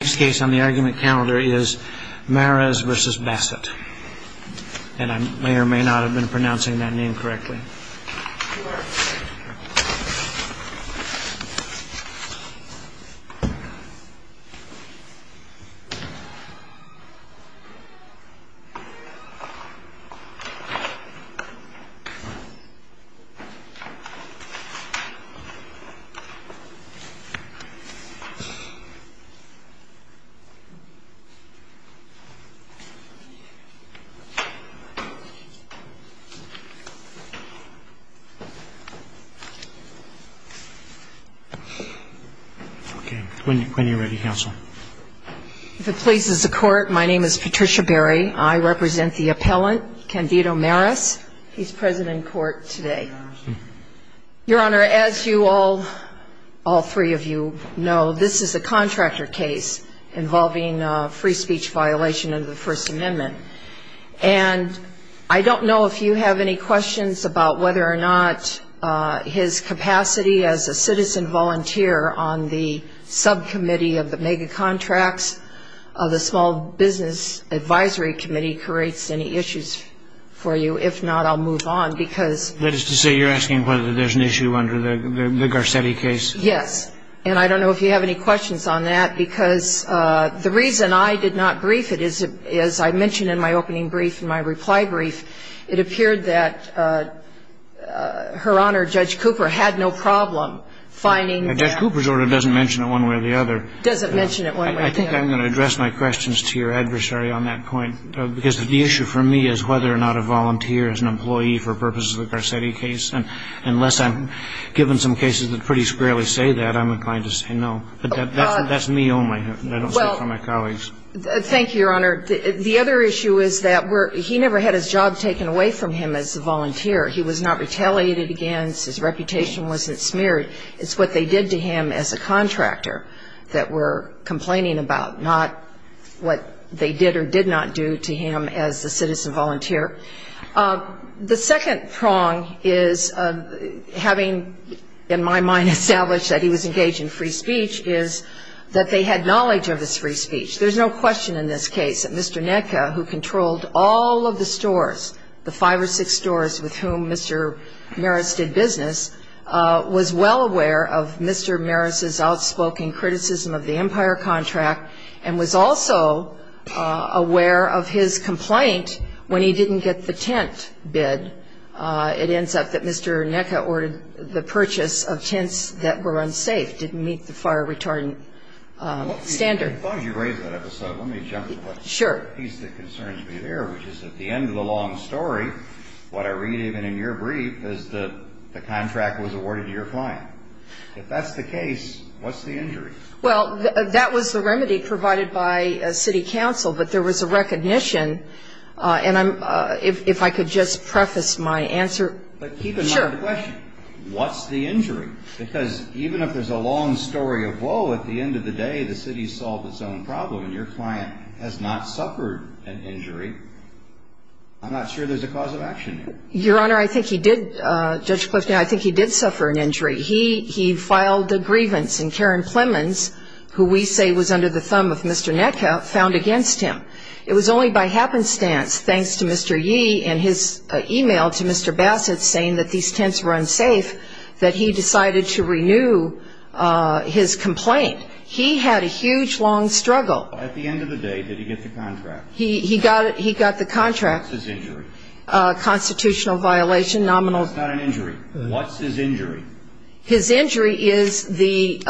The next case on the argument calendar is Marez v. Bassett, and I may or may not have been pronouncing that name correctly. If it pleases the Court, my name is Patricia Berry. I represent the appellant, Candido Marez. He's present in court today. Your Honor, as you all, all three of you know, this is a contractor case involving a free speech violation of the First Amendment. And I don't know if you have any questions about whether or not his capacity as a citizen volunteer on the subcommittee of the mega-contracts of the Small Business Advisory Committee creates any issues for you. If not, I'll move on, because — That is to say, you're asking whether there's an issue under the Garcetti case? Yes. And I don't know if you have any questions on that, because the reason I did not brief it is, as I mentioned in my opening brief, in my reply brief, it appeared that Her Honor, Judge Cooper, had no problem finding that — Now, Judge Cooper's order doesn't mention it one way or the other. Doesn't mention it one way or the other. I think I'm going to address my questions to your adversary on that point, because the issue for me is whether or not a volunteer is an employee for purposes of the Garcetti case. And unless I'm given some cases that pretty squarely say that, I'm inclined to say no. But that's me only. I don't speak for my colleagues. Thank you, Your Honor. The other issue is that he never had his job taken away from him as a volunteer. He was not retaliated against. His reputation wasn't smeared. It's what they did to him as a contractor that we're complaining about, not what they did or did not do to him as a citizen volunteer. The second prong is having, in my mind, established that he was engaged in free speech, is that they had knowledge of his free speech. There's no question in this case that Mr. Netka, who controlled all of the stores, the five or six stores with whom Mr. Maris did business, was well aware of Mr. Maris's outspoken criticism of the Empire contract and was also aware of his complaint when he didn't get the tent bid. It ends up that Mr. Netka ordered the purchase of tents that were unsafe, didn't meet the fire retardant standard. As long as you raise that episode, let me jump to the piece that concerns me there, which is at the end of the long story, what I read even in your brief, is that the contract was awarded to your client. If that's the case, what's the injury? Well, that was the remedy provided by city council, but there was a recognition, and if I could just preface my answer. But keep in mind the question. Sure. What's the injury? Because even if there's a long story of, whoa, at the end of the day, the city solved its own problem and your client has not suffered an injury, I'm not sure there's a cause of action there. Your Honor, I think he did, Judge Clifton, I think he did suffer an injury. He filed a grievance, and Karen Plemons, who we say was under the thumb of Mr. Netka, found against him. It was only by happenstance, thanks to Mr. Yee and his e-mail to Mr. Bassett saying that these tents were unsafe, that he decided to renew his complaint. He had a huge, long struggle. At the end of the day, did he get the contract? He got the contract. What's his injury? A constitutional violation, nominal. That's not an injury. What's his injury? His injury is the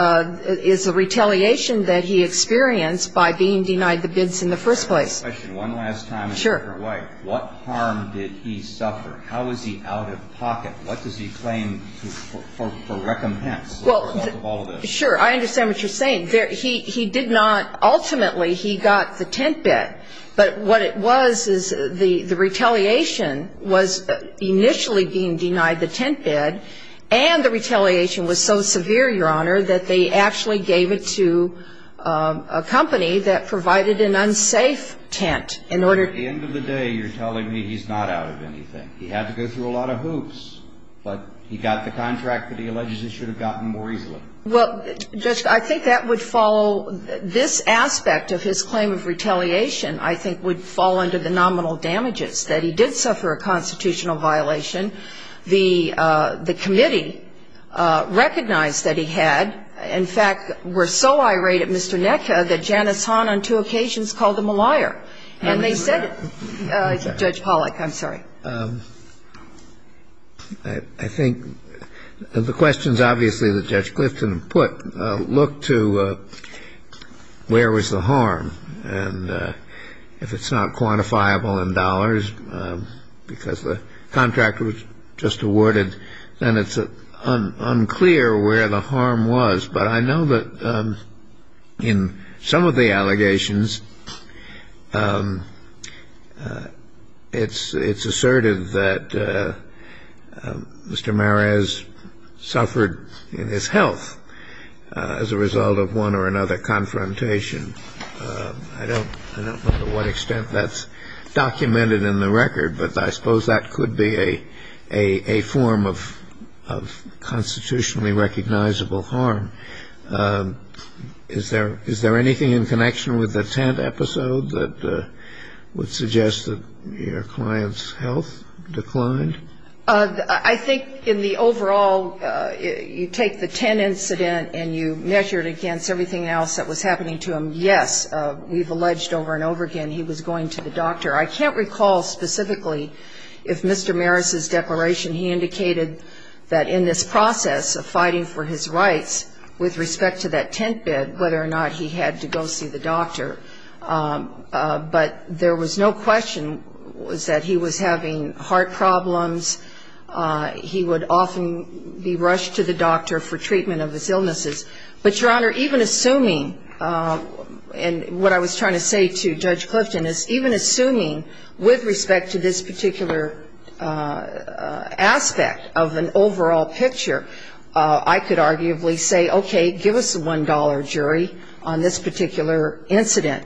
retaliation that he experienced by being denied the bids in the first place. I have a question. One last time. Sure. What harm did he suffer? How is he out of pocket? What does he claim for recompense as a result of all of this? Sure. I understand what you're saying. He did not ultimately, he got the tent bid. But what it was is the retaliation was initially being denied the tent bid, and the retaliation was so severe, Your Honor, that they actually gave it to a company that provided an unsafe tent. At the end of the day, you're telling me he's not out of anything. He had to go through a lot of hoops, but he got the contract that he alleges he should have gotten more easily. Well, Judge, I think that would follow this aspect of his claim of retaliation, I think, would fall under the nominal damages, that he did suffer a constitutional violation. The committee recognized that he had. In fact, were so irate at Mr. Necka that Janice Hahn on two occasions called him a liar. And they said it. Judge Pollack, I'm sorry. I think the questions, obviously, that Judge Clifton put look to where was the harm. And if it's not quantifiable in dollars, because the contract was just awarded, then it's unclear where the harm was. But I know that in some of the allegations, it's assertive that Mr. Mares suffered in his health as a result of one or another confrontation. I don't know to what extent that's documented in the record, but I suppose that could be a form of constitutionally recognizable harm. Is there anything in connection with the tent episode that would suggest that your client's health declined? I think in the overall, you take the tent incident and you measure it against everything else that was happening to him. Yes, we've alleged over and over again he was going to the doctor. I can't recall specifically if Mr. Mares' declaration, he indicated that in this process of fighting for his rights with respect to that tent bed, whether or not he had to go see the doctor. But there was no question that he was having heart problems. He would often be rushed to the doctor for treatment of his illnesses. But, Your Honor, even assuming, and what I was trying to say to Judge Clifton is, even assuming with respect to this particular aspect of an overall picture, I could arguably say, okay, give us a $1 jury on this particular incident.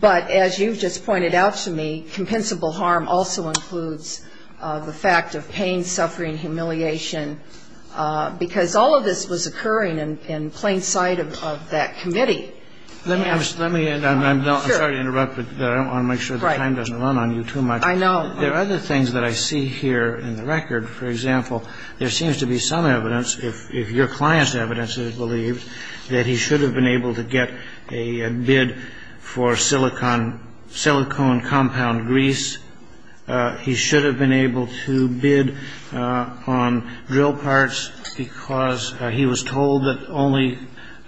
But as you've just pointed out to me, compensable harm also includes the fact of pain, suffering, humiliation, because all of this was occurring in plain sight of that committee. Let me end. I'm sorry to interrupt, but I want to make sure the time doesn't run on you too much. I know. There are other things that I see here in the record. For example, there seems to be some evidence, if your client's evidence is believed, that he should have been able to get a bid for silicone compound grease. He should have been able to bid on drill parts, because he was told that only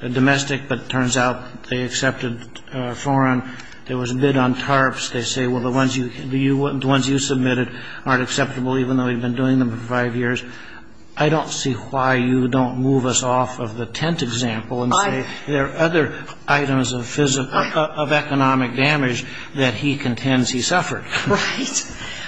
domestic, but it turns out they accepted foreign. There was a bid on tarps. They say, well, the ones you submitted aren't acceptable, even though we've been doing them for five years. I don't see why you don't move us off of the tent example and say there are other items of economic damage that he contends he suffered. Right.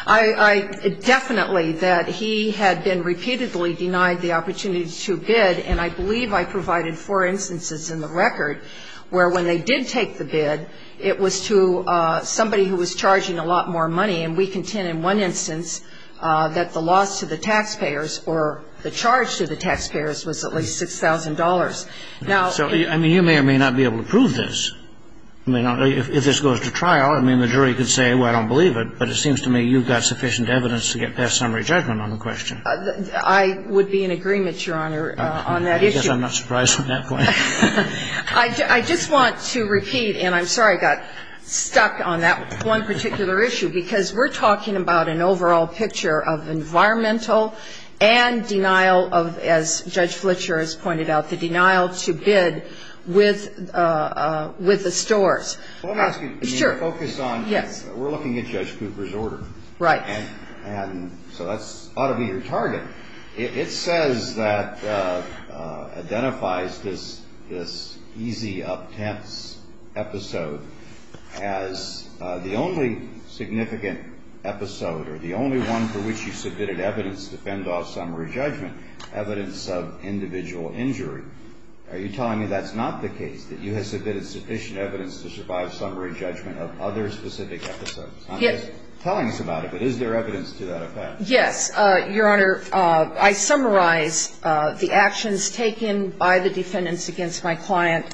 I definitely that he had been repeatedly denied the opportunity to bid, and I believe I provided four instances in the record where when they did take the bid, it was to somebody who was charging a lot more money, and we contend in one instance that the loss to the taxpayers or the charge to the taxpayers was at least $6,000. Now you may or may not be able to prove this. I mean, if this goes to trial, I mean, the jury could say, well, I don't believe it, but it seems to me you've got sufficient evidence to get past summary judgment on the question. I would be in agreement, Your Honor, on that issue. I guess I'm not surprised at that point. I just want to repeat, and I'm sorry I got stuck on that one particular issue, because we're talking about an overall picture of environmental and denial of, as Judge Fletcher has pointed out, the denial to bid with the stores. Well, let me ask you, can you focus on we're looking at Judge Cooper's order. Right. And so that ought to be your target. It says that identifies this easy, uptense episode as the only significant episode or the only one for which you submitted evidence to fend off summary judgment, evidence of individual injury. Are you telling me that's not the case, that you have submitted sufficient evidence to survive summary judgment of other specific episodes? I'm just telling us about it, but is there evidence to that effect? Yes, Your Honor. I summarize the actions taken by the defendants against my client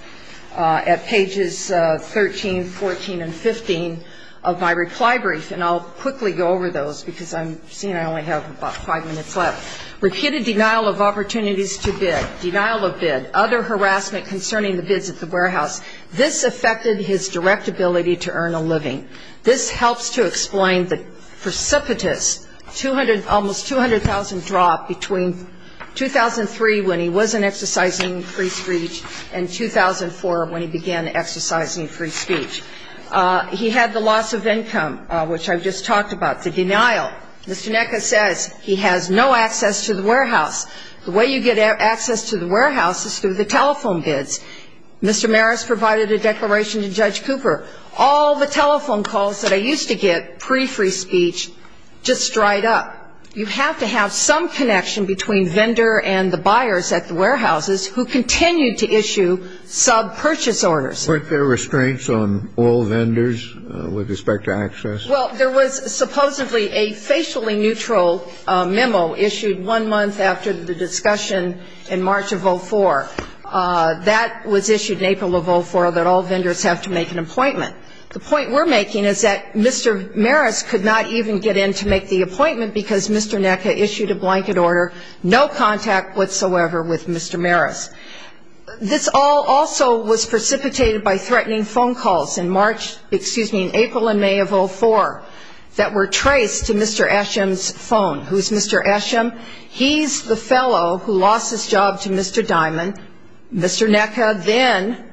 at pages 13, 14, and 15 of my reply brief. And I'll quickly go over those because I'm seeing I only have about five minutes left. Repeated denial of opportunities to bid, denial of bid, other harassment concerning the bids at the warehouse. This affected his direct ability to earn a living. This helps to explain the precipitous almost 200,000 drop between 2003 when he wasn't exercising free speech and 2004 when he began exercising free speech. He had the loss of income, which I just talked about, the denial. Mr. Nekka says he has no access to the warehouse. The way you get access to the warehouse is through the telephone bids. Mr. Maris provided a declaration to Judge Cooper. All the telephone calls that I used to get pre-free speech just dried up. You have to have some connection between vendor and the buyers at the warehouses who continue to issue sub-purchase orders. Weren't there restraints on all vendors with respect to access? Well, there was supposedly a facially neutral memo issued one month after the discussion in March of 04. That was issued in April of 04, that all vendors have to make an appointment. The point we're making is that Mr. Maris could not even get in to make the appointment because Mr. Nekka issued a blanket order, no contact whatsoever with Mr. Maris. This all also was precipitated by threatening phone calls in March, excuse me, in April and May of 04 that were traced to Mr. Eshem's phone. Who's Mr. Eshem? He's the fellow who lost his job to Mr. Dimon. Mr. Nekka then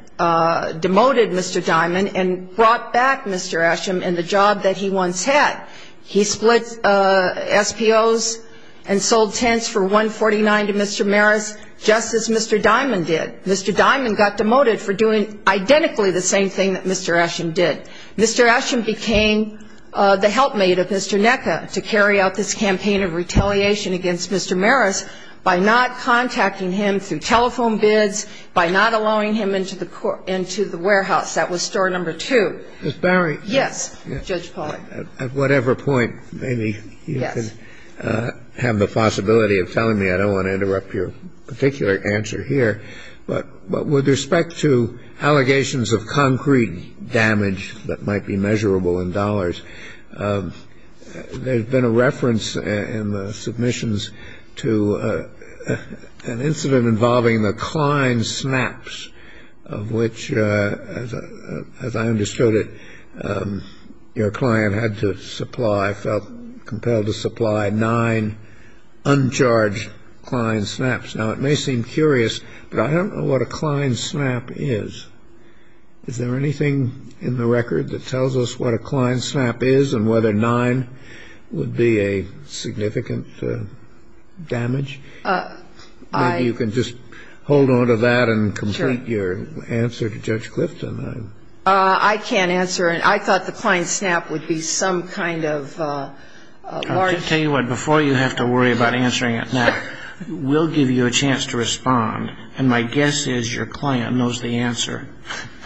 demoted Mr. Dimon and brought back Mr. Eshem and the job that he once had. He split SPOs and sold tents for $149 to Mr. Maris just as Mr. Dimon did. Mr. Dimon got demoted for doing identically the same thing that Mr. Eshem did. Mr. Eshem became the helpmate of Mr. Nekka to carry out this campaign of retaliation against Mr. Maris by not contacting him through telephone bids, by not allowing him into the warehouse. That was story number two. Ms. Barry. Yes, Judge Pollack. At whatever point, maybe you could have the possibility of telling me. I don't want to interrupt your particular answer here. But with respect to allegations of concrete damage that might be measurable in dollars, there's been a reference in the submissions to an incident involving the Klein snaps, which, as I understood it, your client had to supply, felt compelled to supply nine uncharged Klein snaps. Now, it may seem curious, but I don't know what a Klein snap is. Is there anything in the record that tells us what a Klein snap is and whether nine would be a significant damage? Maybe you can just hold on to that and complete your answer to Judge Clifton. I can't answer it. I thought the Klein snap would be some kind of large. I'll tell you what. Before you have to worry about answering it now, we'll give you a chance to respond. And my guess is your client knows the answer.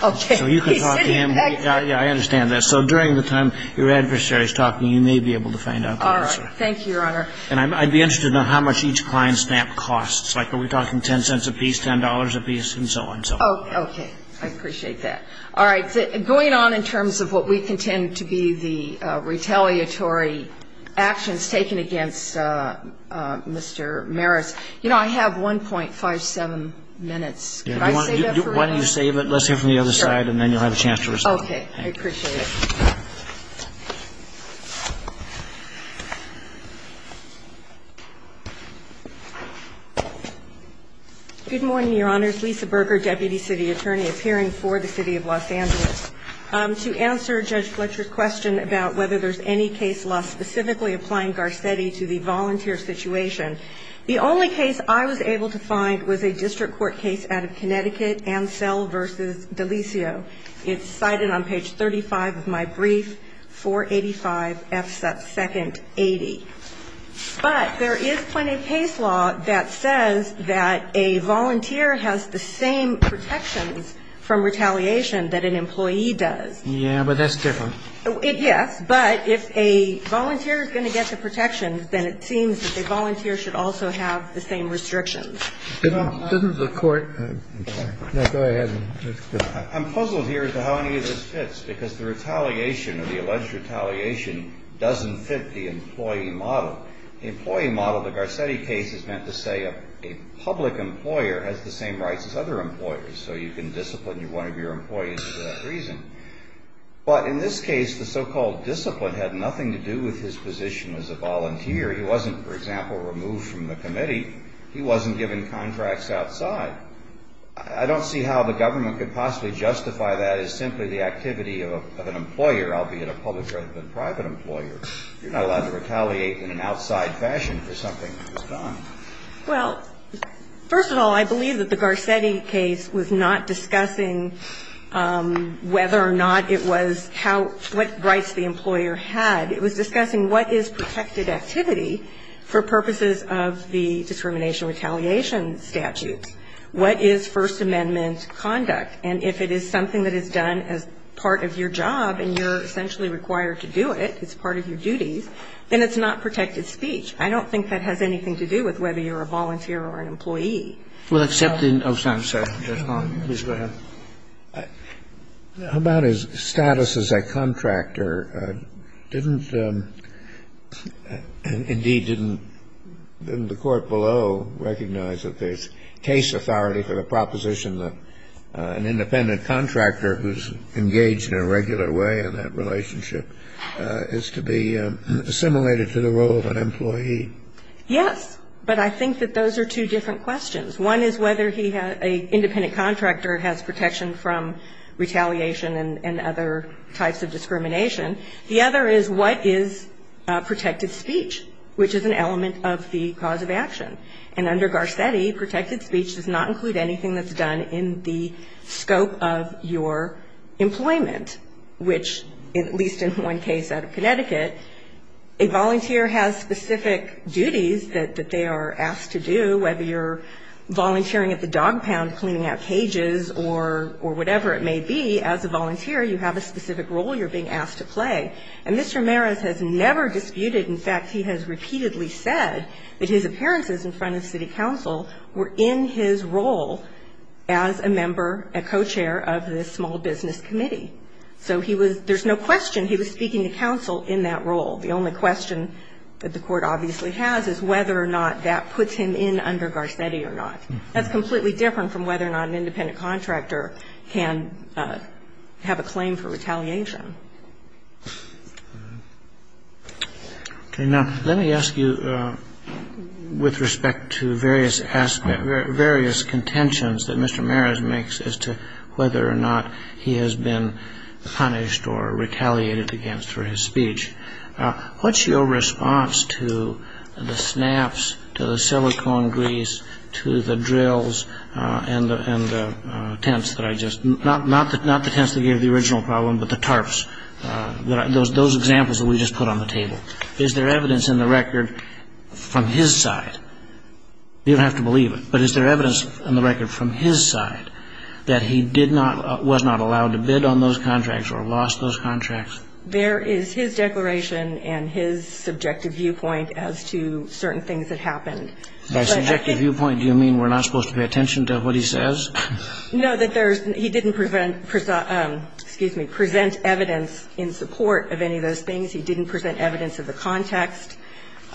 Okay. So you can talk to him. I understand that. So during the time your adversary is talking, you may be able to find out the answer. All right. Thank you, Your Honor. And I'd be interested to know how much each Klein snap costs. Like, are we talking $0.10 a piece, $10 a piece, and so on and so forth? Okay. I appreciate that. All right. Going on in terms of what we contend to be the retaliatory actions taken against Mr. Maris, you know, I have 1.57 minutes. Could I save that for later? Why don't you save it? Let's hear from the other side, and then you'll have a chance to respond. Okay. I appreciate it. Good morning, Your Honors. Lisa Berger, Deputy City Attorney, appearing for the City of Los Angeles. To answer Judge Fletcher's question about whether there's any case law specifically applying Garcetti to the volunteer situation, the only case I was able to find was a district court case out of Connecticut, Ansel v. Delisio. It's cited on page 35 of my brief, 485F2nd80. But there is plenty of case law that says that a volunteer has the same protections from retaliation that an employee does. Yeah, but that's different. Yes, but if a volunteer is going to get the protections, then it seems that the volunteer should also have the same restrictions. Doesn't the court go ahead? I'm puzzled here as to how any of this fits because the retaliation or the alleged retaliation doesn't fit the employee model. The employee model of the Garcetti case is meant to say a public employer has the same rights as other employers, so you can discipline one of your employees for that reason. But in this case, the so-called discipline had nothing to do with his position as a volunteer. He wasn't, for example, removed from the committee. He wasn't given contracts outside. I don't see how the government could possibly justify that as simply the activity of an employer, albeit a public rather than private employer. You're not allowed to retaliate in an outside fashion for something that was done. Well, first of all, I believe that the Garcetti case was not discussing whether or not it was what rights the employer had. It was discussing what is protected activity for purposes of the discrimination retaliation statutes. What is First Amendment conduct? And if it is something that is done as part of your job and you're essentially required to do it, it's part of your duties, then it's not protected speech. I don't think that has anything to do with whether you're a volunteer or an employee. Well, except in Osan, sir. Please go ahead. How about his status as a contractor? Didn't, indeed, didn't the court below recognize that the case authority for the proposition that an independent contractor who's engaged in a regular way in that relationship is to be assimilated to the role of an employee? Yes. But I think that those are two different questions. One is whether he has an independent contractor has protection from retaliation and other types of discrimination. The other is what is protected speech, which is an element of the cause of action. And under Garcetti, protected speech does not include anything that's done in the scope of your employment, which, at least in one case out of Connecticut, a volunteer has specific duties that they are asked to do, whether you're volunteering at the dog pound, cleaning out cages, or whatever it may be. As a volunteer, you have a specific role you're being asked to play. And Mr. Maris has never disputed. In fact, he has repeatedly said that his appearances in front of city council were in his role as a member, a co-chair of this small business committee. So he was, there's no question he was speaking to council in that role. The only question that the Court obviously has is whether or not that puts him in under Garcetti or not. That's completely different from whether or not an independent contractor can have a claim for retaliation. Okay. Now, let me ask you with respect to various aspects, various contentions that Mr. Maris makes as to whether or not he has been punished or retaliated against for his speech, what's your response to the snaps, to the silicone grease, to the drills, and the tents that I just, not the tents that gave the original problem, but the tarps, those examples that we just put on the table. Is there evidence in the record from his side, you don't have to believe it, but is there evidence in the record from his side that he was not allowed to bid on those contracts or lost those contracts? There is his declaration and his subjective viewpoint as to certain things that happened. By subjective viewpoint, do you mean we're not supposed to pay attention to what he says? No, that there's, he didn't present, excuse me, present evidence in support of any of those things. He didn't present evidence of the context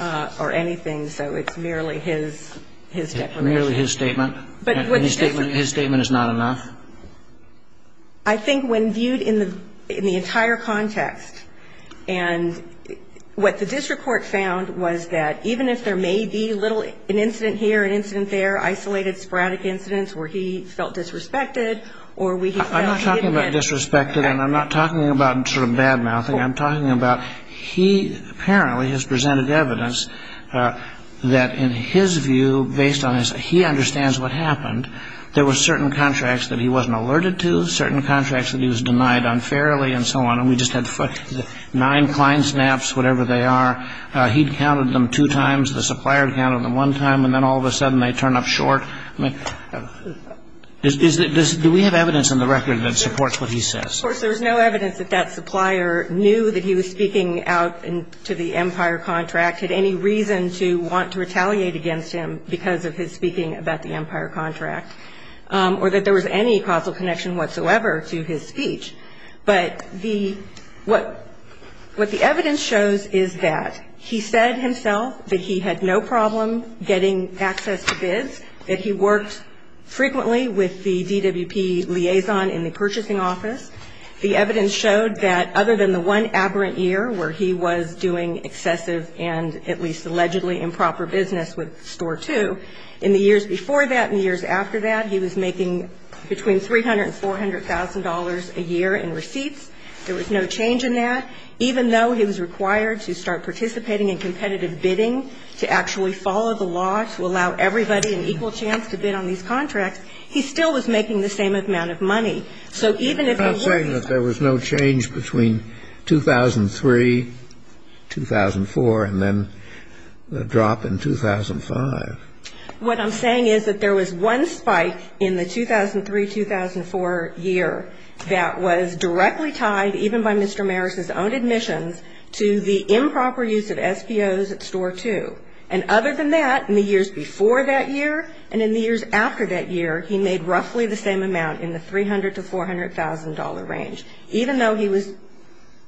or anything. So it's merely his declaration. Merely his statement? His statement is not enough? I think when viewed in the entire context, and what the district court found was that even if there may be little, an incident here, an incident there, isolated sporadic incidents where he felt disrespected or where he felt he had been. I'm not talking about disrespected, and I'm not talking about sort of bad-mouthing. I'm talking about he apparently has presented evidence that in his view, based on his, that he understands what happened, there were certain contracts that he wasn't alerted to, certain contracts that he was denied unfairly, and so on. And we just had nine client snaps, whatever they are. He'd counted them two times. The supplier counted them one time, and then all of a sudden they turn up short. I mean, is there, do we have evidence in the record that supports what he says? Of course, there was no evidence that that supplier knew that he was speaking out to the Empire contract, had any reason to want to retaliate against him because of his speaking about the Empire contract, or that there was any causal connection whatsoever to his speech. But the, what the evidence shows is that he said himself that he had no problem getting access to bids, that he worked frequently with the DWP liaison in the purchasing office. The evidence showed that other than the one aberrant year where he was doing excessive and at least allegedly improper business with Store 2, in the years before that and the years after that, he was making between $300,000 and $400,000 a year in receipts. There was no change in that. Even though he was required to start participating in competitive bidding to actually follow the law to allow everybody an equal chance to bid on these contracts, he still was making the same amount of money. So even if he were to be ---- I'm not saying that there was no change between 2003, 2004, and then the drop in 2005. What I'm saying is that there was one spike in the 2003, 2004 year that was directly tied, even by Mr. Marris's own admissions, to the improper use of SBOs at Store 2. And other than that, in the years before that year and in the years after that year, he made roughly the same amount in the $300,000 to $400,000 range. Even though he was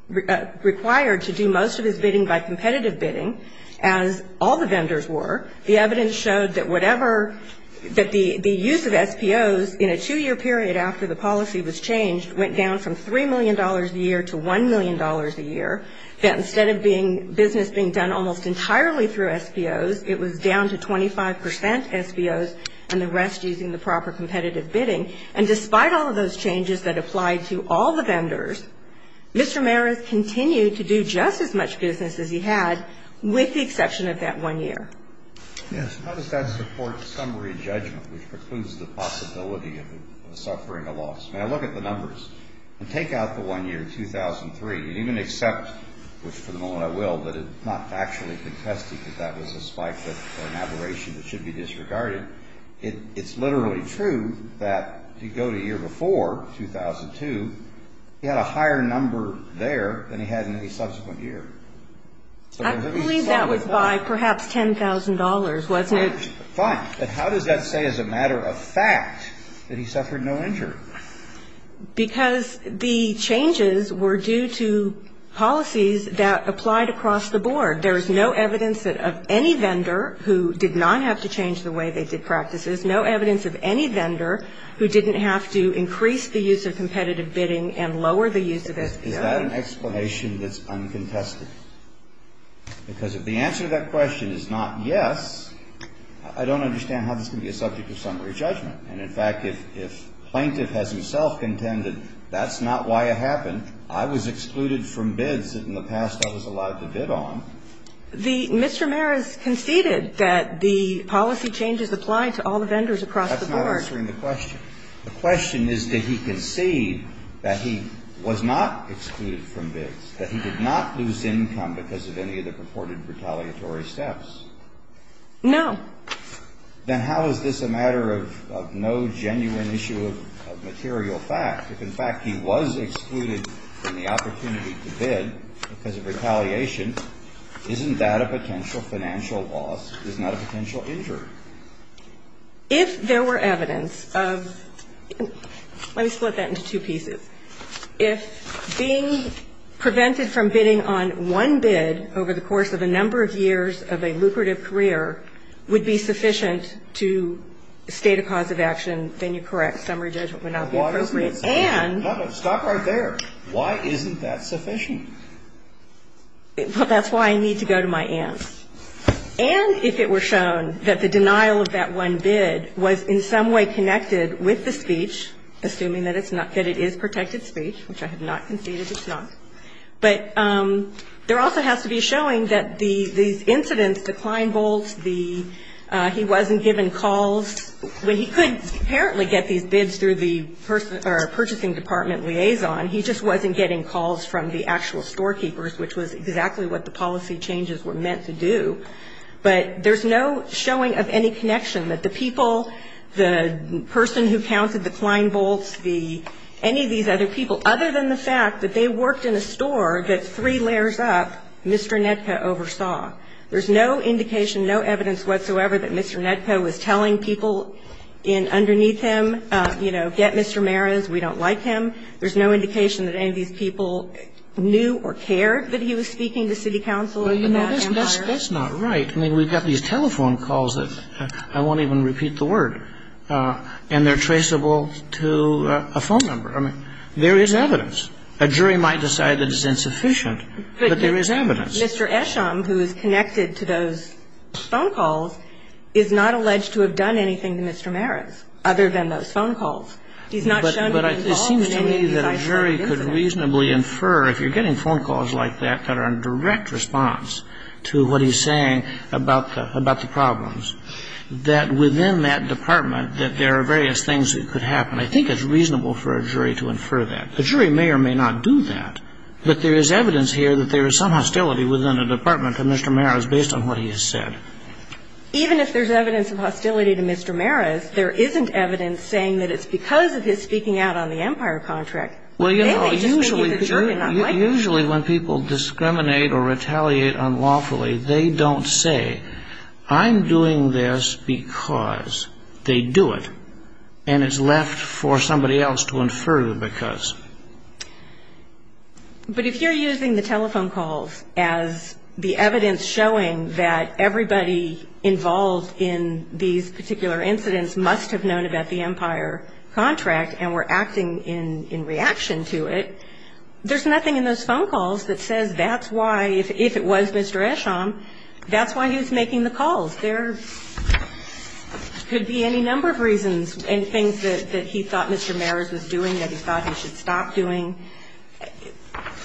required to do most of his bidding by competitive bidding, as all the vendors were, the evidence showed that whatever the use of SBOs in a two-year period after the policy was changed went down from $3 million a year to $1 million a year, that instead of being business being done almost entirely through SBOs, it was down to 25 percent SBOs and the rest using the proper competitive bidding. And despite all of those changes that applied to all the vendors, Mr. Marris continued to do just as much business as he had with the exception of that one year. Yes. How does that support summary judgment, which precludes the possibility of suffering a loss? May I look at the numbers? And take out the one year, 2003, and even accept, which for the moment I will, that it's not factually contesting that that was a spike or an aberration that should be disregarded. It's literally true that if you go to the year before, 2002, he had a higher number there than he had in the subsequent year. I believe that was by perhaps $10,000, wasn't it? Fine. But how does that say as a matter of fact that he suffered no injury? Because the changes were due to policies that applied across the board. There is no evidence of any vendor who did not have to change the way they did practices, no evidence of any vendor who didn't have to increase the use of competitive bidding and lower the use of SBOs. Is that an explanation that's uncontested? Because if the answer to that question is not yes, I don't understand how this can be a subject of summary judgment. And in fact, if plaintiff has himself contended that's not why it happened, I was excluded from bids that in the past I was allowed to bid on. Mr. Maris conceded that the policy changes applied to all the vendors across the board. That's not answering the question. The question is did he concede that he was not excluded from bids, that he did not lose income because of any of the purported retaliatory steps? No. Then how is this a matter of no genuine issue of material fact? If, in fact, he was excluded from the opportunity to bid because of retaliation, isn't that a potential financial loss? It's not a potential injury. If there were evidence of – let me split that into two pieces. If being prevented from bidding on one bid over the course of a number of years of a lucrative career would be sufficient to state a cause of action, then you're correct. Summary judgment would not be appropriate. And – Stop right there. Why isn't that sufficient? Well, that's why I need to go to my aunt. And if it were shown that the denial of that one bid was in some way connected with the speech, assuming that it's not, that it is protected speech, which I have not conceded it's not. But there also has to be a showing that these incidents, the Kleinvolts, the – he wasn't given calls – well, he couldn't apparently get these bids through the purchasing department liaison. He just wasn't getting calls from the actual storekeepers, which was exactly what the policy changes were meant to do. But there's no showing of any connection that the people, the person who counted the Kleinvolts, the – any of these other people, other than the fact that they worked in a store that's three layers up, Mr. Nedko oversaw. There's no indication, no evidence whatsoever that Mr. Nedko was telling people in – underneath him, you know, get Mr. Maris, we don't like him. There's no indication that any of these people knew or cared that he was speaking to city council and that empire. Well, you know, that's not right. I mean, we've got these telephone calls that I won't even repeat the word. And they're traceable to a phone number. I mean, there is evidence. A jury might decide that it's insufficient, but there is evidence. Mr. Esham, who is connected to those phone calls, is not alleged to have done anything to Mr. Maris other than those phone calls. He's not shown to be involved in any of these eyesore business. But it seems to me that a jury could reasonably infer, if you're getting phone calls like that that are in direct response to what he's saying about the problems, that within that department that there are various things that could happen. I think it's reasonable for a jury to infer that. The jury may or may not do that. But there is evidence here that there is some hostility within the department of Mr. Maris based on what he has said. Even if there's evidence of hostility to Mr. Maris, there isn't evidence saying that it's because of his speaking out on the empire contract. Well, you know, usually when people discriminate or retaliate unlawfully, they don't say, I'm doing this because they do it. And it's left for somebody else to infer the because. But if you're using the telephone calls as the evidence showing that everybody involved in these particular incidents must have known about the empire contract and were acting in reaction to it, there's nothing in those phone calls that says that's why, if it was Mr. Esham, that's why he was making the calls. There could be any number of reasons and things that he thought Mr. Maris was doing that he thought he should stop doing.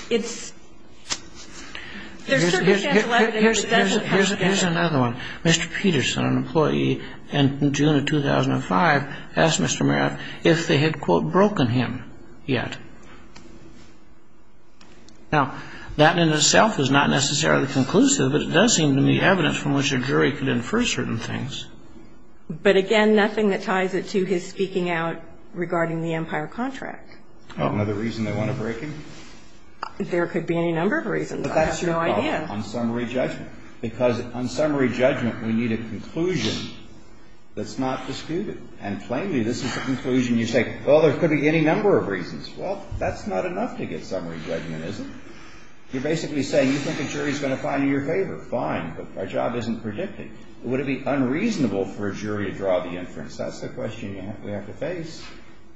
It's – there's certain substantial evidence that doesn't come together. Here's another one. Mr. Peterson, an employee in June of 2005, asked Mr. Maris if they had, quote, broken him yet. Now, that in itself is not necessarily conclusive, but it does seem to me evidence from which a jury could infer certain things. But, again, nothing that ties it to his speaking out regarding the empire contract. Another reason they want to break him? There could be any number of reasons. I have no idea. On summary judgment. Because on summary judgment, we need a conclusion that's not disputed. And plainly, this is a conclusion you say, well, there could be any number of reasons. Well, that's not enough to get summary judgment, is it? You're basically saying you think a jury's going to find you in your favor. Fine, but our job isn't predicting. Would it be unreasonable for a jury to draw the inference? That's the question we have to face.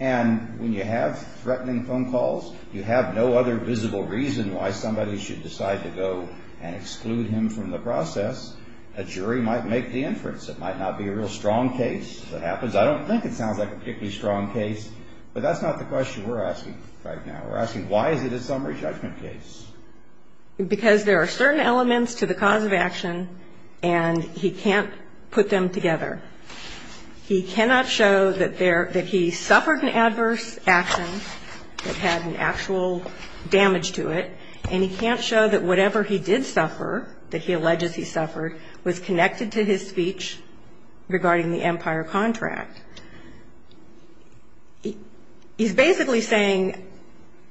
And when you have threatening phone calls, you have no other visible reason why somebody should decide to go and exclude him from the process. A jury might make the inference. It might not be a real strong case that happens. I don't think it sounds like a particularly strong case, but that's not the question we're asking right now. We're asking why is it a summary judgment case? Because there are certain elements to the cause of action, and he can't put them together. He cannot show that he suffered an adverse action that had an actual damage to it, and he can't show that whatever he did suffer, that he alleges he suffered, was connected to his speech regarding the Empire contract. He's basically saying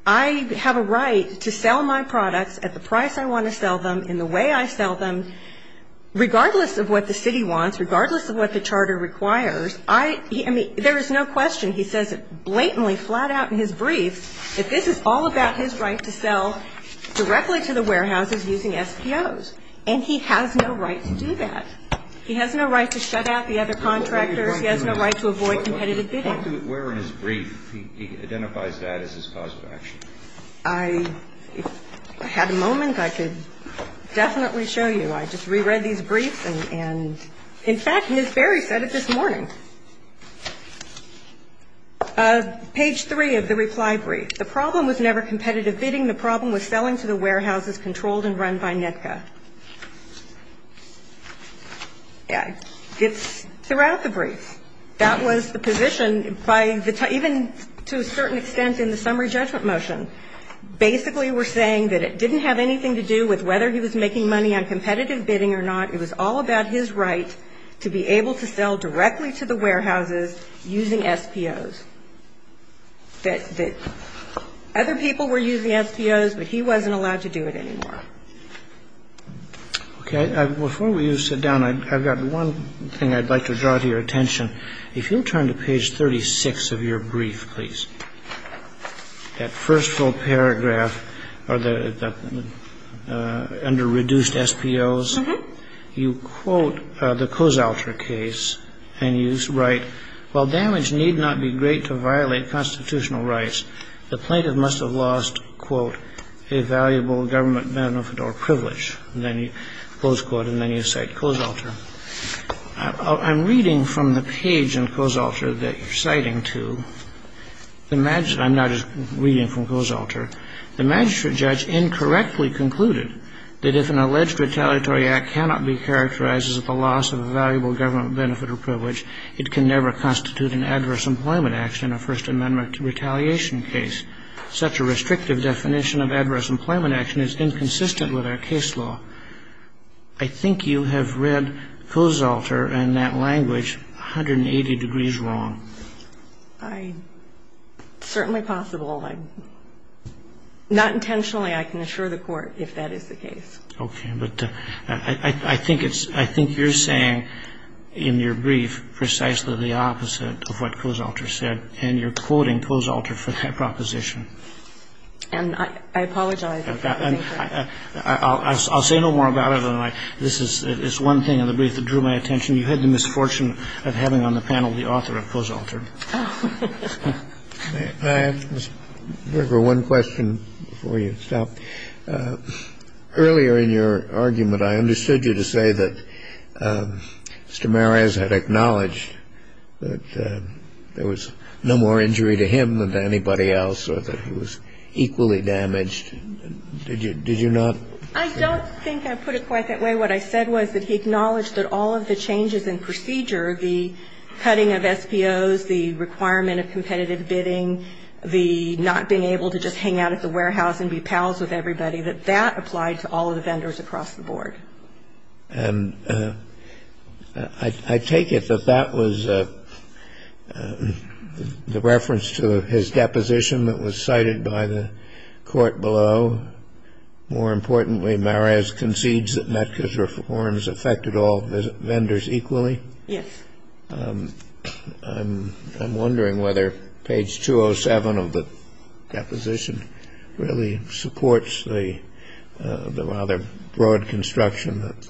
I have a right to sell my products at the price I want to sell them and the way I sell them, regardless of what the city wants, regardless of what the charter requires. I mean, there is no question, he says it blatantly flat out in his briefs, that this is all about his right to sell directly to the warehouses using SPOs, and he has no right to do that. He has no right to shut out the other contractors. He has no right to avoid competitive bidding. Where in his brief he identifies that as his cause of action? If I had a moment, I could definitely show you. I just reread these briefs, and in fact, Ms. Berry said it this morning. Page 3 of the reply brief. The problem was never competitive bidding. The problem was selling to the warehouses controlled and run by NEDCA. It's throughout the brief. That was the position, even to a certain extent in the summary judgment motion. Basically, we're saying that it didn't have anything to do with whether he was making money on competitive bidding or not. It was all about his right to be able to sell directly to the warehouses using SPOs. That other people were using SPOs, but he wasn't allowed to do it anymore. Okay. Before we sit down, I've got one thing I'd like to draw to your attention. If you'll turn to page 36 of your brief, please. That first full paragraph under reduced SPOs, you quote the Kosalter case, and you write, while damage need not be great to violate constitutional rights, the plaintiff must have lost, quote, a valuable government benefit or privilege. And then you close quote, and then you cite Kosalter. I'm reading from the page in Kosalter that you're citing to. I'm not just reading from Kosalter. The magistrate judge incorrectly concluded that if an alleged retaliatory act cannot be characterized as the loss of a valuable government benefit or privilege, it can never constitute an adverse employment action in a First Amendment retaliation case. Such a restrictive definition of adverse employment action is inconsistent with our case law. I think you have read Kosalter in that language 180 degrees wrong. It's certainly possible. Not intentionally, I can assure the Court if that is the case. Okay. But I think you're saying in your brief precisely the opposite of what Kosalter said, and you're quoting Kosalter for that proposition. And I apologize. I'll say no more about it. This is one thing in the brief that drew my attention. You had the misfortune of having on the panel the author of Kosalter. I have one question before you stop. Earlier in your argument, I understood you to say that Mr. Maraz had acknowledged that there was no more injury to him than to anybody else, or that he was equally damaged. Did you not? I don't think I put it quite that way. What I said was that he acknowledged that all of the changes in procedure, the cutting of SPOs, the requirement of competitive bidding, the not being able to just hang out at the warehouse and be pals with everybody, that that applied to all of the vendors across the board. And I take it that that was the reference to his deposition that was cited by the court below. More importantly, Maraz concedes that Metca's reforms affected all vendors equally. Yes. I'm wondering whether page 207 of the deposition really supports the rather broad construction that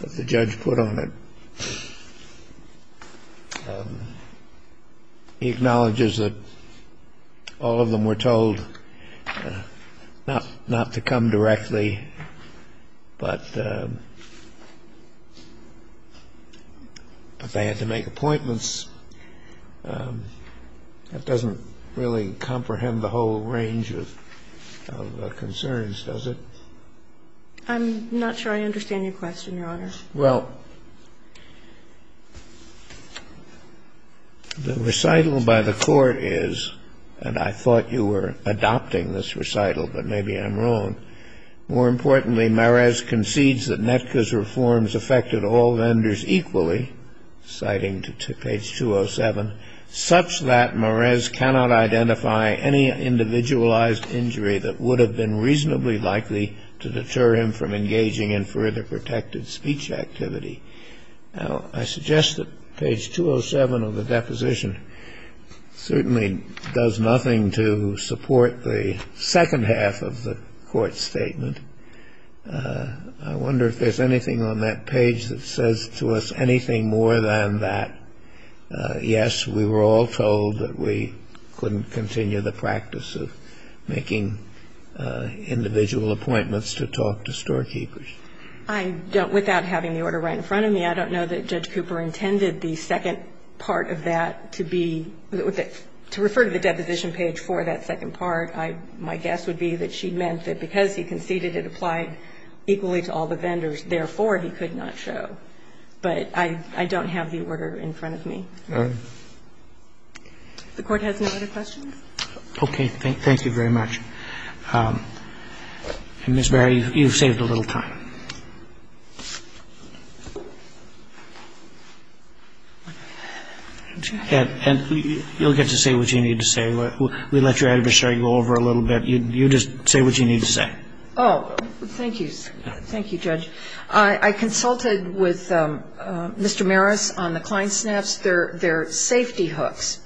the judge put on it. He acknowledges that all of them were told not to come directly, but they had to make appointments. That doesn't really comprehend the whole range of concerns, does it? I'm not sure I understand your question, Your Honor. Well, the recital by the court is, and I thought you were adopting this recital, but maybe I'm wrong. More importantly, Maraz concedes that Metca's reforms affected all vendors equally, citing page 207, such that Maraz cannot identify any individualized injury that would have been reasonably likely to deter him from engaging in further protected speech activity. Now, I suggest that page 207 of the deposition certainly does nothing to support the second half of the court statement. I wonder if there's anything on that page that says to us anything more than that, yes, we were all told that we couldn't continue the practice of making individual appointments to talk to storekeepers. I don't, without having the order right in front of me, I don't know that Judge Cooper intended the second part of that to be, to refer to the deposition page for that second part. My guess would be that she meant that because he conceded it applied equally to all the vendors, therefore, he could not show. But I don't have the order in front of me. All right. If the Court has no other questions. Okay. Thank you very much. And, Ms. Barry, you've saved a little time. And you'll get to say what you need to say. We let your adversary go over a little bit. You just say what you need to say. Oh. Thank you. Thank you, Judge. I consulted with Mr. Maris on the Klein Snaps. They're safety hooks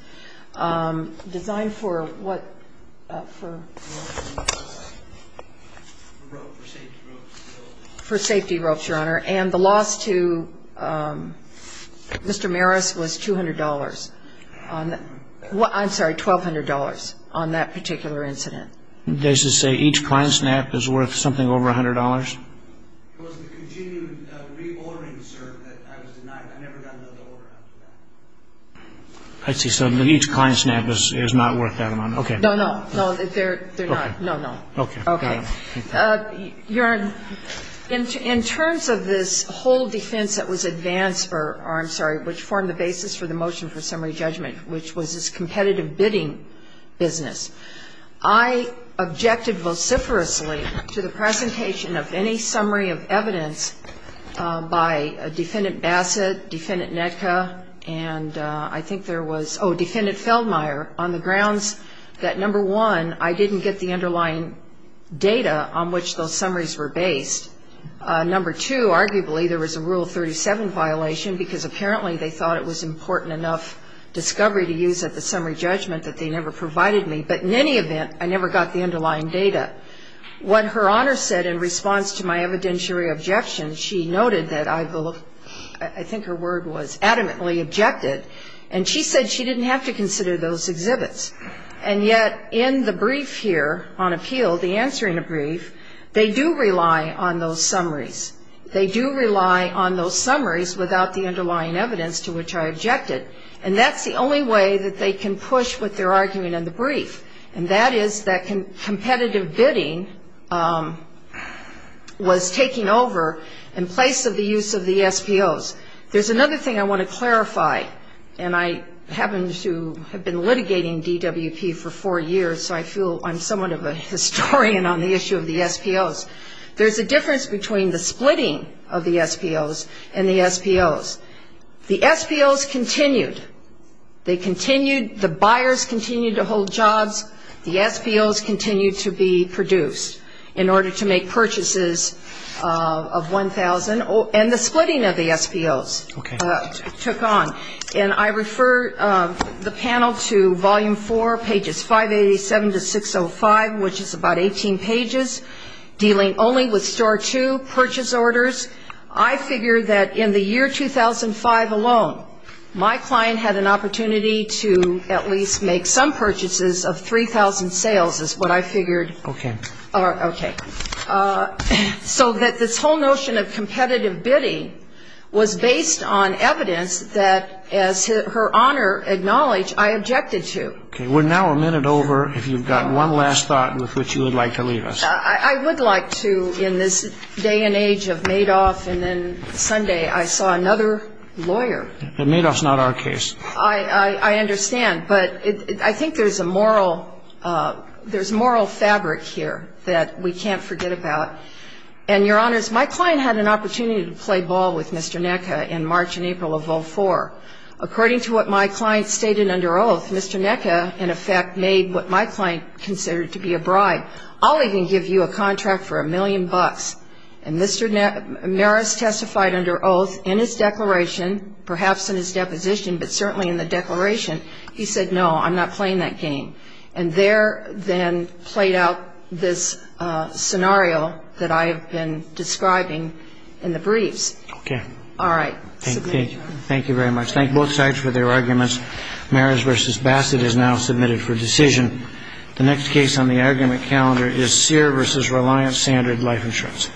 designed for what? For safety ropes, Your Honor. And the loss to Mr. Maris was $200. I'm sorry, $1,200 on that particular incident. Does it say each Klein Snap is worth something over $100? It was the continued reordering, sir, that I was denied. I never got another order after that. I see. So each Klein Snap is not worth that amount. Okay. No, no. No, they're not. No, no. Okay. Okay. Your Honor, in terms of this whole defense that was advanced for, or I'm sorry, which formed the basis for the motion for summary judgment, which was this competitive bidding business, I objected vociferously to the presentation of any summary of evidence by Defendant Bassett, Defendant Nedka, and I think there was, oh, Defendant Feldmeyer, on the grounds that, number one, I didn't get the underlying data on which those summaries were based. Number two, arguably, there was a Rule 37 violation, because apparently they thought it was important enough discovery to use at the summary judgment that they never provided me. But in any event, I never got the underlying data. What Her Honor said in response to my evidentiary objection, she noted that I, I think her word was adamantly objected, and she said she didn't have to consider those exhibits. And yet, in the brief here on appeal, the answering of brief, they do rely on those summaries. They do rely on those summaries without the underlying evidence to which I objected. And that's the only way that they can push what they're arguing in the brief, and that is that competitive bidding was taking over in place of the use of the SBOs. There's another thing I want to clarify, and I happen to have been litigating DWP for four years, so I feel I'm somewhat of a historian on the issue of the SBOs. There's a difference between the splitting of the SBOs and the SBOs. The SBOs continued. They continued. The buyers continued to hold jobs. The SBOs continued to be produced in order to make purchases of 1,000. And the splitting of the SBOs took on. And I refer the panel to Volume 4, pages 587 to 605, which is about 18 pages, dealing only with Store 2 purchase orders. I figure that in the year 2005 alone, my client had an opportunity to at least make some purchases of 3,000 sales is what I figured. Okay. Okay. So that this whole notion of competitive bidding was based on evidence that, as Her Honor acknowledged, I objected to. Okay. We're now a minute over. If you've got one last thought with which you would like to leave us. I would like to, in this day and age of Madoff and then Sunday, I saw another lawyer. Madoff's not our case. I understand. But I think there's a moral, there's moral fabric here that we can't forget about. And, Your Honors, my client had an opportunity to play ball with Mr. Necka in March and April of 04. According to what my client stated under oath, Mr. Necka, in effect, made what my client considered to be a bribe. I'll even give you a contract for a million bucks. And Mr. Maris testified under oath in his declaration, perhaps in his deposition, but certainly in the declaration, he said, no, I'm not playing that game. And there then played out this scenario that I have been describing in the briefs. Okay. All right. Thank you. Thank you very much. Thank both sides for their arguments. Maris v. Bassett is now submitted for decision. The next case on the argument calendar is Sear v. Reliant Standard Life Insurance.